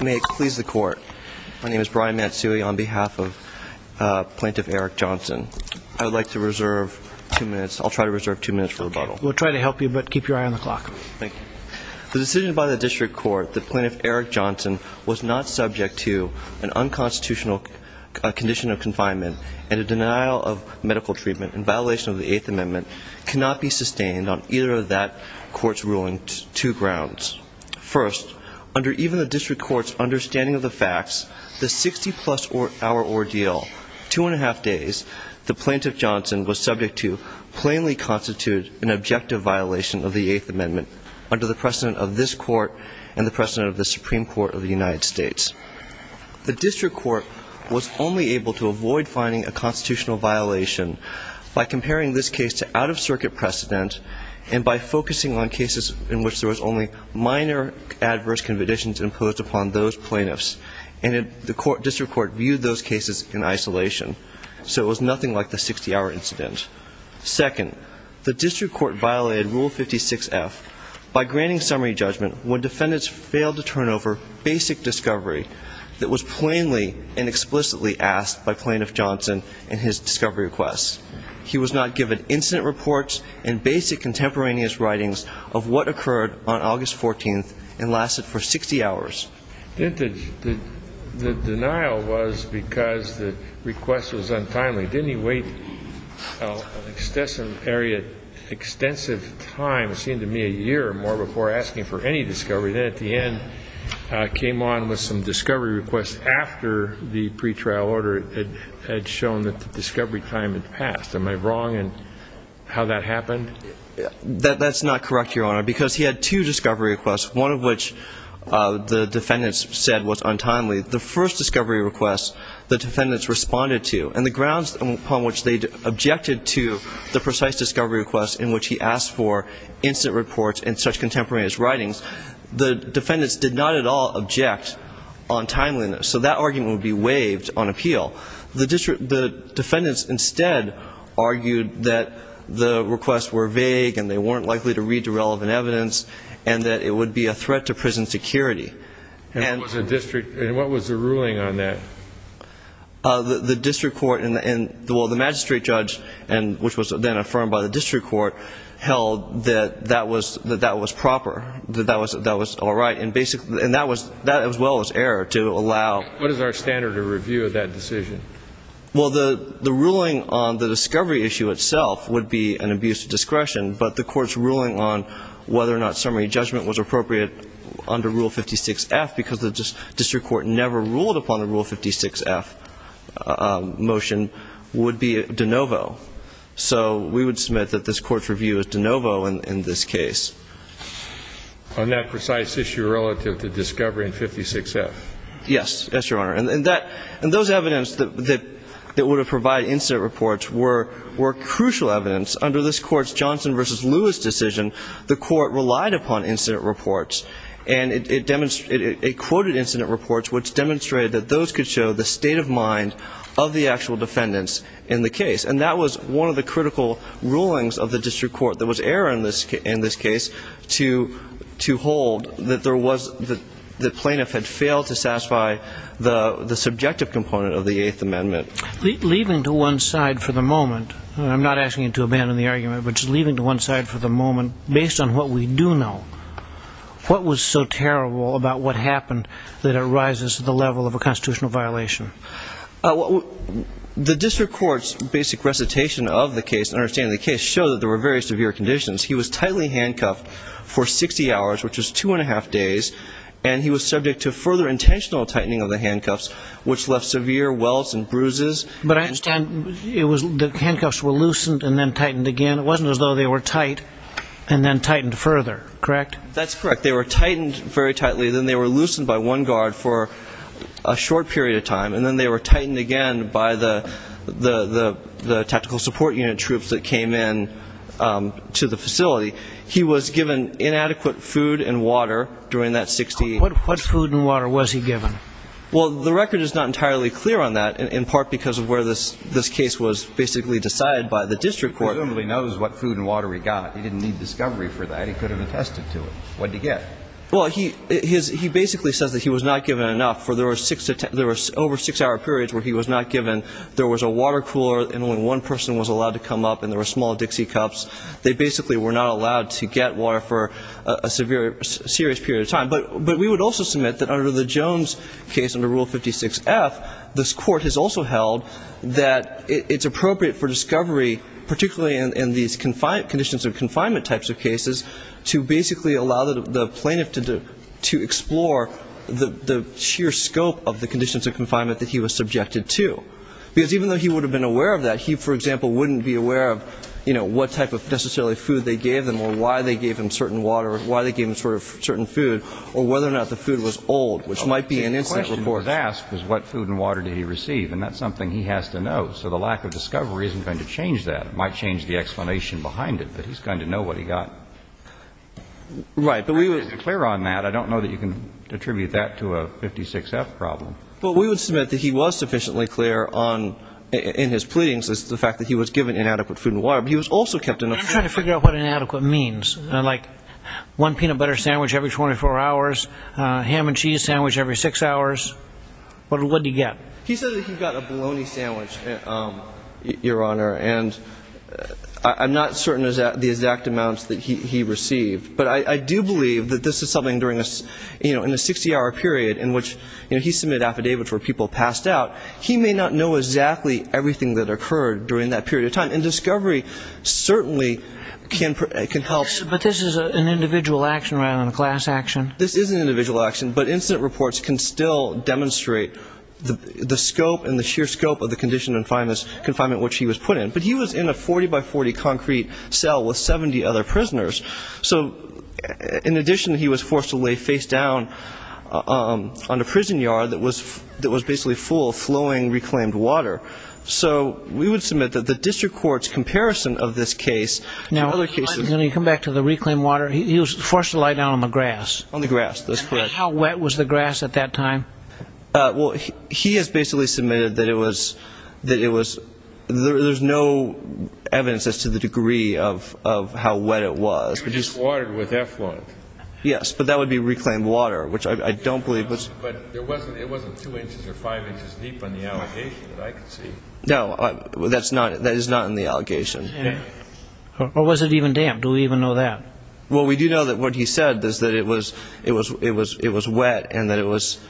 May it please the court. My name is Brian Matsui on behalf of Plaintiff Eric Johnson. I would like to reserve two minutes. I'll try to reserve two minutes for rebuttal. We'll try to help you, but keep your eye on the clock. Thank you. The decision by the district court that Plaintiff Eric Johnson was not subject to an unconstitutional condition of confinement and a denial of medical treatment in violation of the Eighth Amendment cannot be sustained on either of that court's ruling two grounds. First, under even the district court's understanding of the facts, the 60 plus hour ordeal, two and a half days, the Plaintiff Johnson was subject to plainly constitute an objective violation of the Eighth Amendment under the precedent of this court and the precedent of the Supreme Court of the United States. The district court was only able to avoid finding a constitutional violation by comparing this case to out-of-circuit precedent and by focusing on cases in which there was only minor adverse conditions imposed upon those plaintiffs. And the district court viewed those cases in isolation. So it was nothing like the 60-hour incident. Second, the district court violated Rule 56F by granting summary judgment when defendants failed to turn over basic discovery that was plainly and explicitly asked by Plaintiff Johnson in his discovery request. He was not given incident reports and basic contemporaneous writings of what occurred on August 14th and lasted for 60 hours. The denial was because the request was untimely. Didn't he wait an extensive time, it seemed to me a year or more, before asking for any discovery? Then at the end, came on with some discovery requests after the pretrial order had shown that the discovery time had passed. Am I wrong in how that happened? That's not correct, Your Honor, because he had two discovery requests, one of which the defendants said was untimely. The first discovery request the defendants responded to, and the grounds upon which they objected to the precise discovery request in which he asked for incident reports and such contemporaneous writings, the defendants did not at all object on timeliness. So that argument would be waived on appeal. The defendants instead argued that the requests were vague and they weren't likely to read the relevant evidence and that it would be a threat to prison security. And what was the ruling on that? Well, the magistrate judge, which was then affirmed by the district court, held that that was proper, that that was all right. And that, as well, was error to allow. What is our standard of review of that decision? Well, the ruling on the discovery issue itself would be an abuse of discretion. But the court's ruling on whether or not summary judgment was appropriate under Rule 56F, because the district court never ruled upon a Rule 56F motion, would be de novo. So we would submit that this court's review is de novo in this case. On that precise issue relative to discovery in 56F? Yes. Yes, Your Honor. And those evidence that would have provided incident reports were crucial evidence. Under this court's Johnson v. Lewis decision, the court relied upon incident reports. And it quoted incident reports, which demonstrated that those could show the state of mind of the actual defendants in the case. And that was one of the critical rulings of the district court. There was error in this case to hold that there was, that the plaintiff had failed to satisfy the subjective component of the Eighth Amendment. Leaving to one side for the moment, and I'm not asking you to abandon the argument, but just leaving to one side for the moment, based on what we do know, what was so terrible about what happened that it rises to the level of a constitutional violation? The district court's basic recitation of the case and understanding of the case showed that there were very severe conditions. He was tightly handcuffed for 60 hours, which was two and a half days. And he was subject to further intentional tightening of the handcuffs, which left severe welts and bruises. But I understand the handcuffs were loosened and then tightened again. It wasn't as though they were tight and then tightened further, correct? That's correct. They were tightened very tightly. Then they were loosened by one guard for a short period of time. And then they were tightened again by the tactical support unit troops that came in to the facility. He was given inadequate food and water during that 60 hours. What food and water was he given? Well, the record is not entirely clear on that, in part because of where this case was basically decided by the district court. He presumably knows what food and water he got. He didn't need discovery for that. He could have attested to it. What did he get? Well, he basically says that he was not given enough. There were over six-hour periods where he was not given. There was a water cooler, and only one person was allowed to come up, and there were small Dixie cups. They basically were not allowed to get water for a serious period of time. But we would also submit that under the Jones case, under Rule 56F, this court has also held that it's appropriate for discovery, particularly in these conditions of confinement types of cases, to basically allow the plaintiff to explore the sheer scope of the conditions of confinement that he was subjected to. Because even though he would have been aware of that, he, for example, wouldn't be aware of, you know, what type of necessarily food they gave him or why they gave him certain water or why they gave him certain food or whether or not the food was old, which might be an incident report. So what was asked was what food and water did he receive, and that's something he has to know. So the lack of discovery isn't going to change that. It might change the explanation behind it, but he's going to know what he got. Right. But we were clear on that. I don't know that you can attribute that to a 56F problem. But we would submit that he was sufficiently clear on, in his pleadings, the fact that he was given inadequate food and water, but he was also kept in a frame. I'm trying to figure out what inadequate means. Like one peanut butter sandwich every 24 hours, ham and cheese sandwich every six hours. What did he get? He said that he got a bologna sandwich, Your Honor, and I'm not certain of the exact amounts that he received. But I do believe that this is something during a, you know, in a 60-hour period in which, you know, he submitted affidavits where people passed out, he may not know exactly everything that occurred during that period of time. And discovery certainly can help. But this is an individual action rather than a class action. This is an individual action, but incident reports can still demonstrate the scope and the sheer scope of the condition of confinement which he was put in. But he was in a 40-by-40 concrete cell with 70 other prisoners. So in addition, he was forced to lay face down on a prison yard that was basically full of flowing reclaimed water. So we would submit that the district court's comparison of this case to other cases. Now, let me come back to the reclaimed water. He was forced to lie down on the grass. On the grass, that's correct. How wet was the grass at that time? Well, he has basically submitted that it was, that it was, there's no evidence as to the degree of how wet it was. It was just watered with effluent. Yes, but that would be reclaimed water, which I don't believe was. But it wasn't two inches or five inches deep on the allegation that I could see. No, that is not in the allegation. Or was it even damp? Do we even know that? Well, we do know that what he said is that it was wet and that it was,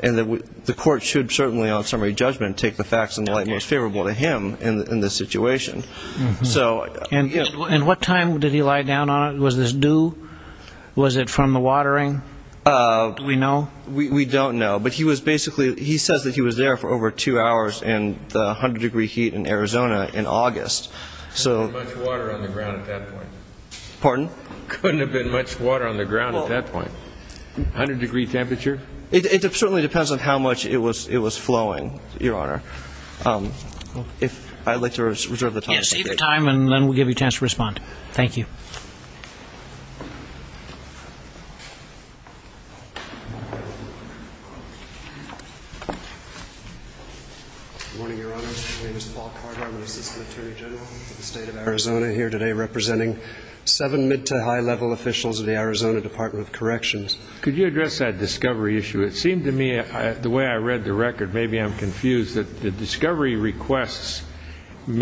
and the court should certainly on summary judgment take the facts in light most favorable to him in this situation. And what time did he lie down on it? Was this due? Was it from the watering? Do we know? We don't know. But he was basically, he says that he was there for over two hours in the 100-degree heat in Arizona in August. Couldn't have been much water on the ground at that point. Pardon? Couldn't have been much water on the ground at that point. 100-degree temperature? It certainly depends on how much it was flowing, Your Honor. If I'd like to reserve the time. Yes, save your time and then we'll give you a chance to respond. Thank you. Good morning, Your Honor. My name is Paul Cardin. I'm an assistant attorney general for the state of Arizona here today representing seven mid- to high-level officials of the Arizona Department of Corrections. Could you address that discovery issue? It seemed to me, the way I read the record, maybe I'm confused that the discovery requests were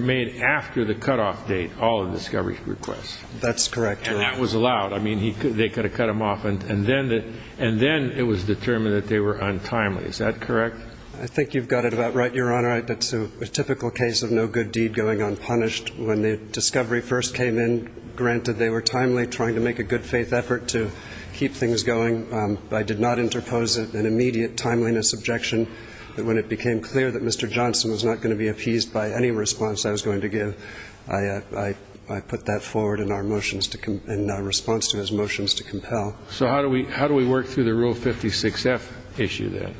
made after the cutoff date, all the discovery requests. That's correct, Your Honor. And that was allowed. I mean, they could have cut them off. And then it was determined that they were untimely. Is that correct? I think you've got it about right, Your Honor. That's a typical case of no good deed going unpunished. When the discovery first came in, granted they were timely, trying to make a good faith effort to keep things going. I did not interpose an immediate timeliness objection. When it became clear that Mr. Johnson was not going to be appeased by any response I was going to give, I put that forward in response to his motions to compel. So how do we work through the Rule 56-F issue then?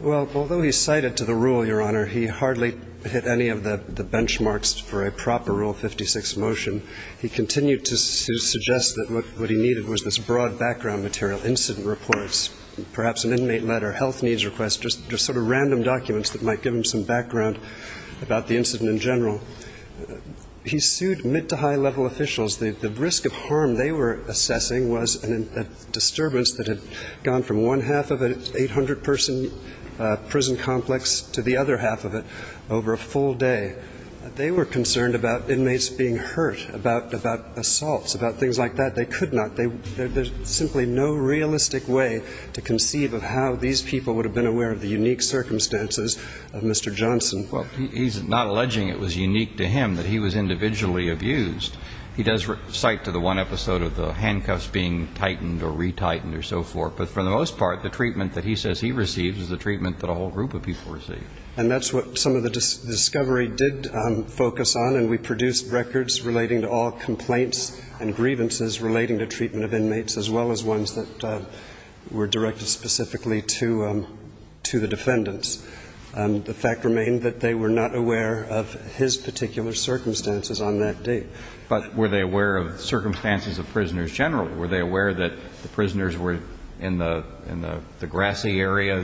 Well, although he cited to the rule, Your Honor, he hardly hit any of the benchmarks for a proper Rule 56 motion. He continued to suggest that what he needed was this broad background material, incident reports, perhaps an inmate letter, health needs requests, just sort of random documents that might give him some background about the incident in general. He sued mid- to high-level officials. The risk of harm they were assessing was a disturbance that had gone from one half of an 800-person prison complex to the other half of it over a full day. They were concerned about inmates being hurt, about assaults, about things like that. They could not. There's simply no realistic way to conceive of how these people would have been aware of the unique circumstances of Mr. Johnson. Well, he's not alleging it was unique to him that he was individually abused. He does cite to the one episode of the handcuffs being tightened or retightened or so forth. But for the most part, the treatment that he says he receives is the treatment that a whole group of people received. And that's what some of the discovery did focus on, and we produced records relating to all complaints and grievances relating to treatment of inmates as well as ones that were directed specifically to the defendants. The fact remained that they were not aware of his particular circumstances on that date. But were they aware of circumstances of prisoners generally? Were they aware that the prisoners were in the grassy area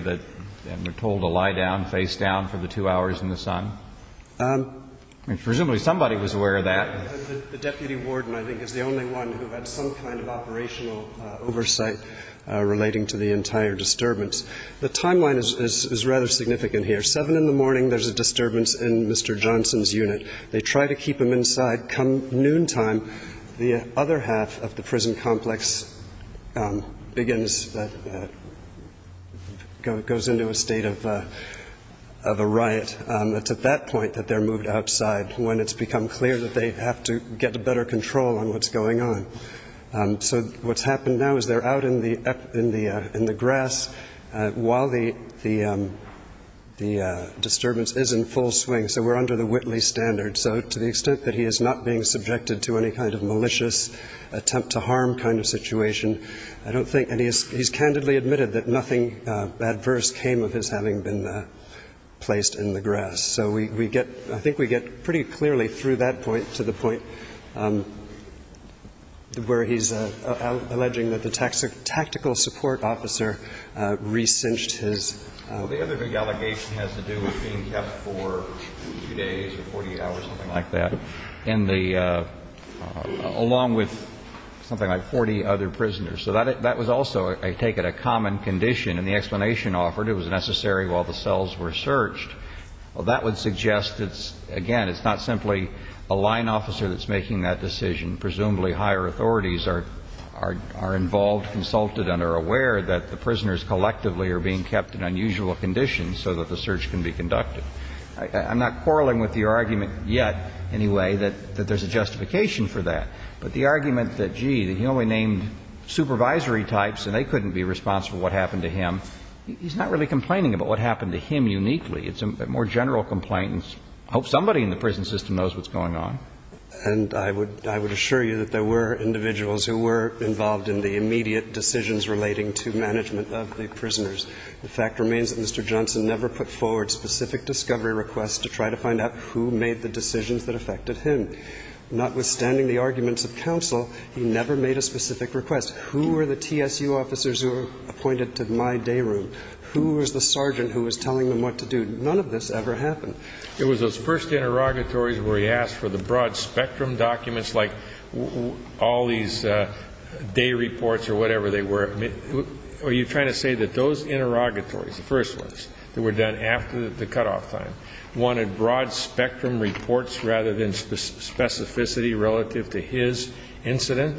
and were told to lie down, face down, for the two hours in the sun? Presumably somebody was aware of that. The deputy warden, I think, is the only one who had some kind of operational oversight relating to the entire disturbance. The timeline is rather significant here. Seven in the morning, there's a disturbance in Mr. Johnson's unit. They try to keep him inside. Come noontime, the other half of the prison complex begins, goes into a state of a riot. It's at that point that they're moved outside when it's become clear that they have to get better control on what's going on. So what's happened now is they're out in the grass while the disturbance is in full swing. So we're under the Whitley standard. So to the extent that he is not being subjected to any kind of malicious attempt to harm kind of situation, I don't think any of this. He's candidly admitted that nothing adverse came of his having been placed in the grass. So we get – I think we get pretty clearly through that point to the point where he's alleging that the tactical support officer re-cinched his. The other big allegation has to do with being kept for two days or 48 hours, something like that, in the – along with something like 40 other prisoners. So that was also, I take it, a common condition. And the explanation offered, it was necessary while the cells were searched. Well, that would suggest it's – again, it's not simply a line officer that's making that decision. Presumably higher authorities are involved, consulted, and are aware that the prisoners collectively are being kept in unusual conditions so that the search can be conducted. I'm not quarreling with your argument yet, anyway, that there's a justification for that. But the argument that, gee, he only named supervisory types and they couldn't be responsible for what happened to him, he's not really complaining about what happened to him uniquely. It's more general complaints. I hope somebody in the prison system knows what's going on. And I would – I would assure you that there were individuals who were involved in the immediate decisions relating to management of the prisoners. The fact remains that Mr. Johnson never put forward specific discovery requests to try to find out who made the decisions that affected him. Notwithstanding the arguments of counsel, he never made a specific request. Who were the TSU officers who were appointed to my day room? Who was the sergeant who was telling them what to do? None of this ever happened. It was those first interrogatories where he asked for the broad-spectrum documents like all these day reports or whatever they were. Are you trying to say that those interrogatories, the first ones that were done after the cutoff time, wanted broad-spectrum reports rather than specificity relative to his incident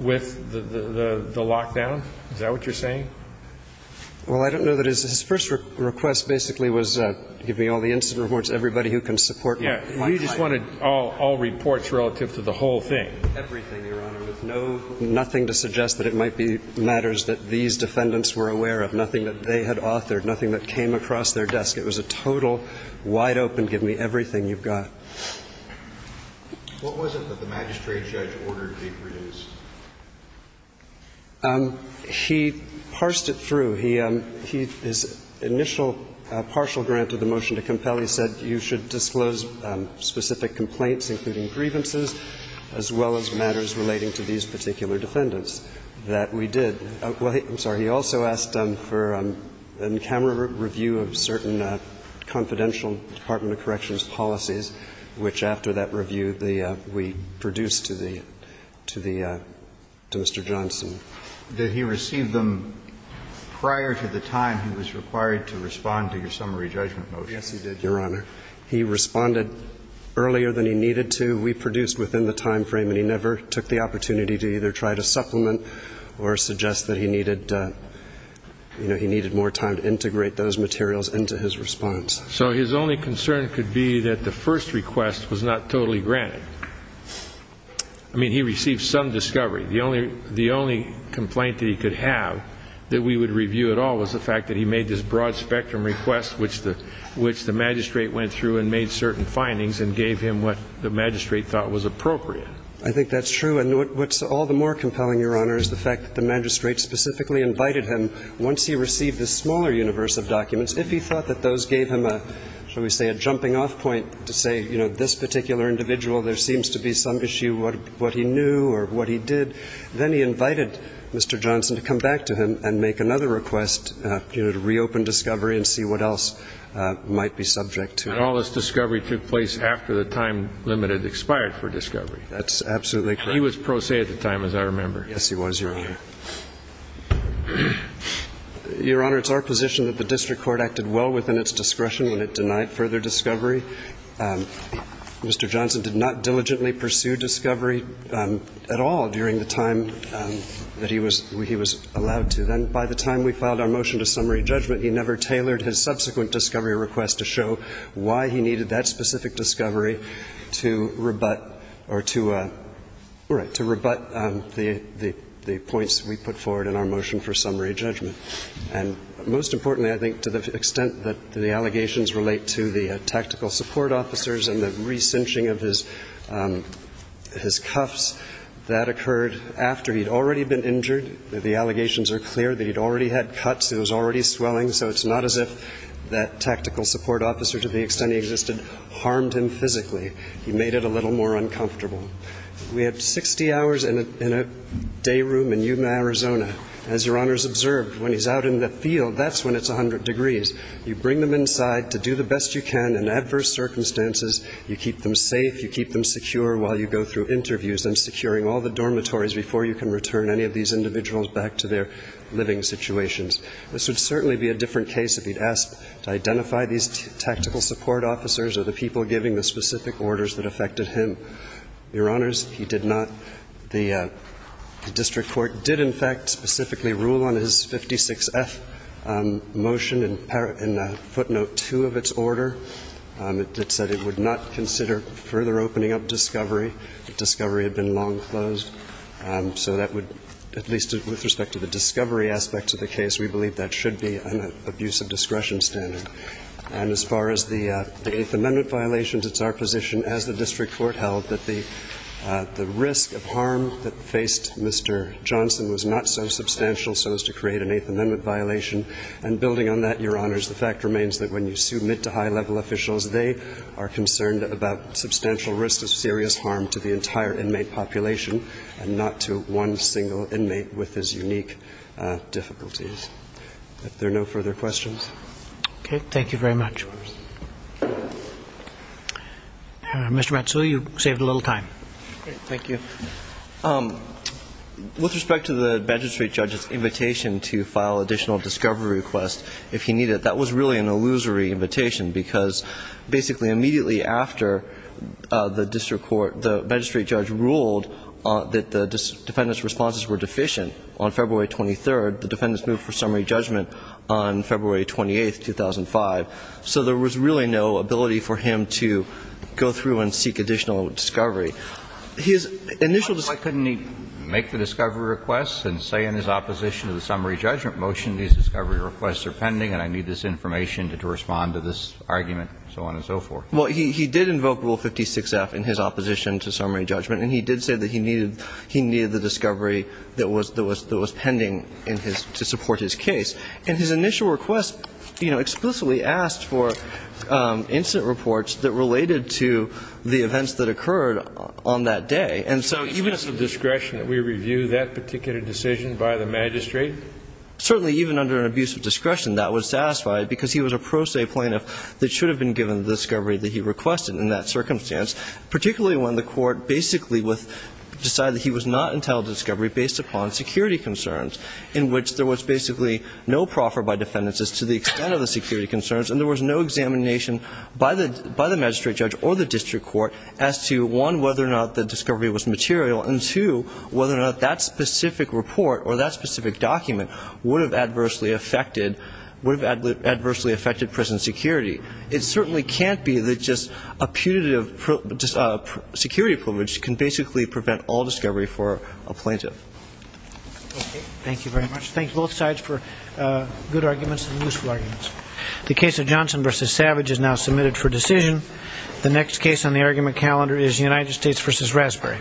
with the lockdown? Is that what you're saying? Well, I don't know that his – his first request basically was give me all the incident reports, everybody who can support my client. Yeah. We just wanted all reports relative to the whole thing. Everything, Your Honor, with no – nothing to suggest that it might be matters that these defendants were aware of, nothing that they had authored, nothing that came across their desk. It was a total wide open give me everything you've got. What was it that the magistrate judge ordered to be produced? He parsed it through. He – his initial partial grant of the motion to compel, he said you should disclose specific complaints, including grievances, as well as matters relating to these particular defendants. That we did. I'm sorry. He also asked for an in-camera review of certain confidential Department of Corrections policies, which after that review, the – we produced to the – to the – to Mr. Johnson. Did he receive them prior to the time he was required to respond to your summary judgment motion? Yes, he did, Your Honor. He responded earlier than he needed to. We produced within the time frame, and he never took the opportunity to either try to supplement or suggest that he needed – you know, he needed more time to integrate those materials into his response. So his only concern could be that the first request was not totally granted. I mean, he received some discovery. The only – the only complaint that he could have that we would review at all was the fact that he made this broad spectrum request, which the – which the magistrate went through and made certain findings and gave him what the magistrate thought was appropriate. I think that's true. And what's all the more compelling, Your Honor, is the fact that the magistrate specifically invited him once he received the smaller universe of documents, if he thought that those gave him a, shall we say, a jumping-off point to say, you know, this particular individual, there seems to be some issue with what he knew or what he did, then he invited Mr. Johnson to come back to him and make another request, you know, to reopen discovery and see what else might be subject to him. And all this discovery took place after the time limit had expired for discovery. That's absolutely correct. He was pro se at the time, as I remember. Yes, he was, Your Honor. Your Honor, it's our position that the district court acted well within its discretion when it denied further discovery. Mr. Johnson did not diligently pursue discovery at all during the time that he was allowed to. Then by the time we filed our motion to summary judgment, he never tailored his subsequent discovery request to show why he needed that specific discovery to rebut the points we put forward in our motion for summary judgment. And most importantly, I think, to the extent that the allegations relate to the tactical support officers and the re-cinching of his cuffs, that occurred after he'd already been injured. The allegations are clear that he'd already had cuts, he was already swelling. So it's not as if that tactical support officer, to the extent he existed, harmed him physically. He made it a little more uncomfortable. We have 60 hours in a day room in Yuma, Arizona. As Your Honor has observed, when he's out in the field, that's when it's 100 degrees. You bring them inside to do the best you can in adverse circumstances. You keep them safe, you keep them secure while you go through interviews and securing all the dormitories before you can return any of these individuals back to their living situations. This would certainly be a different case if he'd asked to identify these tactical support officers or the people giving the specific orders that affected him. Your Honors, he did not. The district court did, in fact, specifically rule on his 56F motion in footnote 2 of its order. It said it would not consider further opening up discovery, that discovery had been long closed. So that would, at least with respect to the discovery aspect of the case, we believe that should be an abuse of discretion standard. And as far as the Eighth Amendment violations, it's our position, as the district court held, that the risk of harm that faced Mr. Johnson was not so substantial so as to create an Eighth Amendment violation. And building on that, Your Honors, the fact remains that when you submit to high-level officials, they are concerned about substantial risk of serious harm to the entire inmate population and not to one single inmate with his unique difficulties. If there are no further questions. Okay. Thank you very much. Mr. Matsui, you saved a little time. Thank you. With respect to the magistrate judge's invitation to file additional discovery requests, if he needed it, that was really an illusory invitation because, basically, immediately after the district court, the magistrate judge ruled that the defendant's responses were deficient on February 23rd, the defendants moved for summary judgment on February 28th, 2005. So there was really no ability for him to go through and seek additional discovery. His initial discovery requests were pending. Why couldn't he make the discovery requests and say in his opposition to the summary judgment motion, these discovery requests are pending and I need this information to respond to this argument, so on and so forth? Well, he did invoke Rule 56-F in his opposition to summary judgment, and he did say that he needed the discovery that was pending in his to support his case. And his initial request, you know, explicitly asked for incident reports that related to the events that occurred on that day. And so even if it's at discretion that we review that particular decision by the magistrate? Certainly, even under an abuse of discretion, that was satisfied because he was a pro se plaintiff that should have been given the discovery that he requested in that circumstance, particularly when the court basically decided that he was not entitled to discovery based upon security concerns, in which there was basically no proffer by defendants as to the extent of the security concerns, and there was no examination by the magistrate judge or the district court as to, one, whether or not the discovery was material, and, two, whether or not that specific report or that specific document would have adversely affected prison security. It certainly can't be that just a putative security privilege can basically prevent all discovery for a plaintiff. Okay. Thank you very much. Thank both sides for good arguments and useful arguments. The case of Johnson v. Savage is now submitted for decision. The next case on the argument calendar is United States v. Raspberry.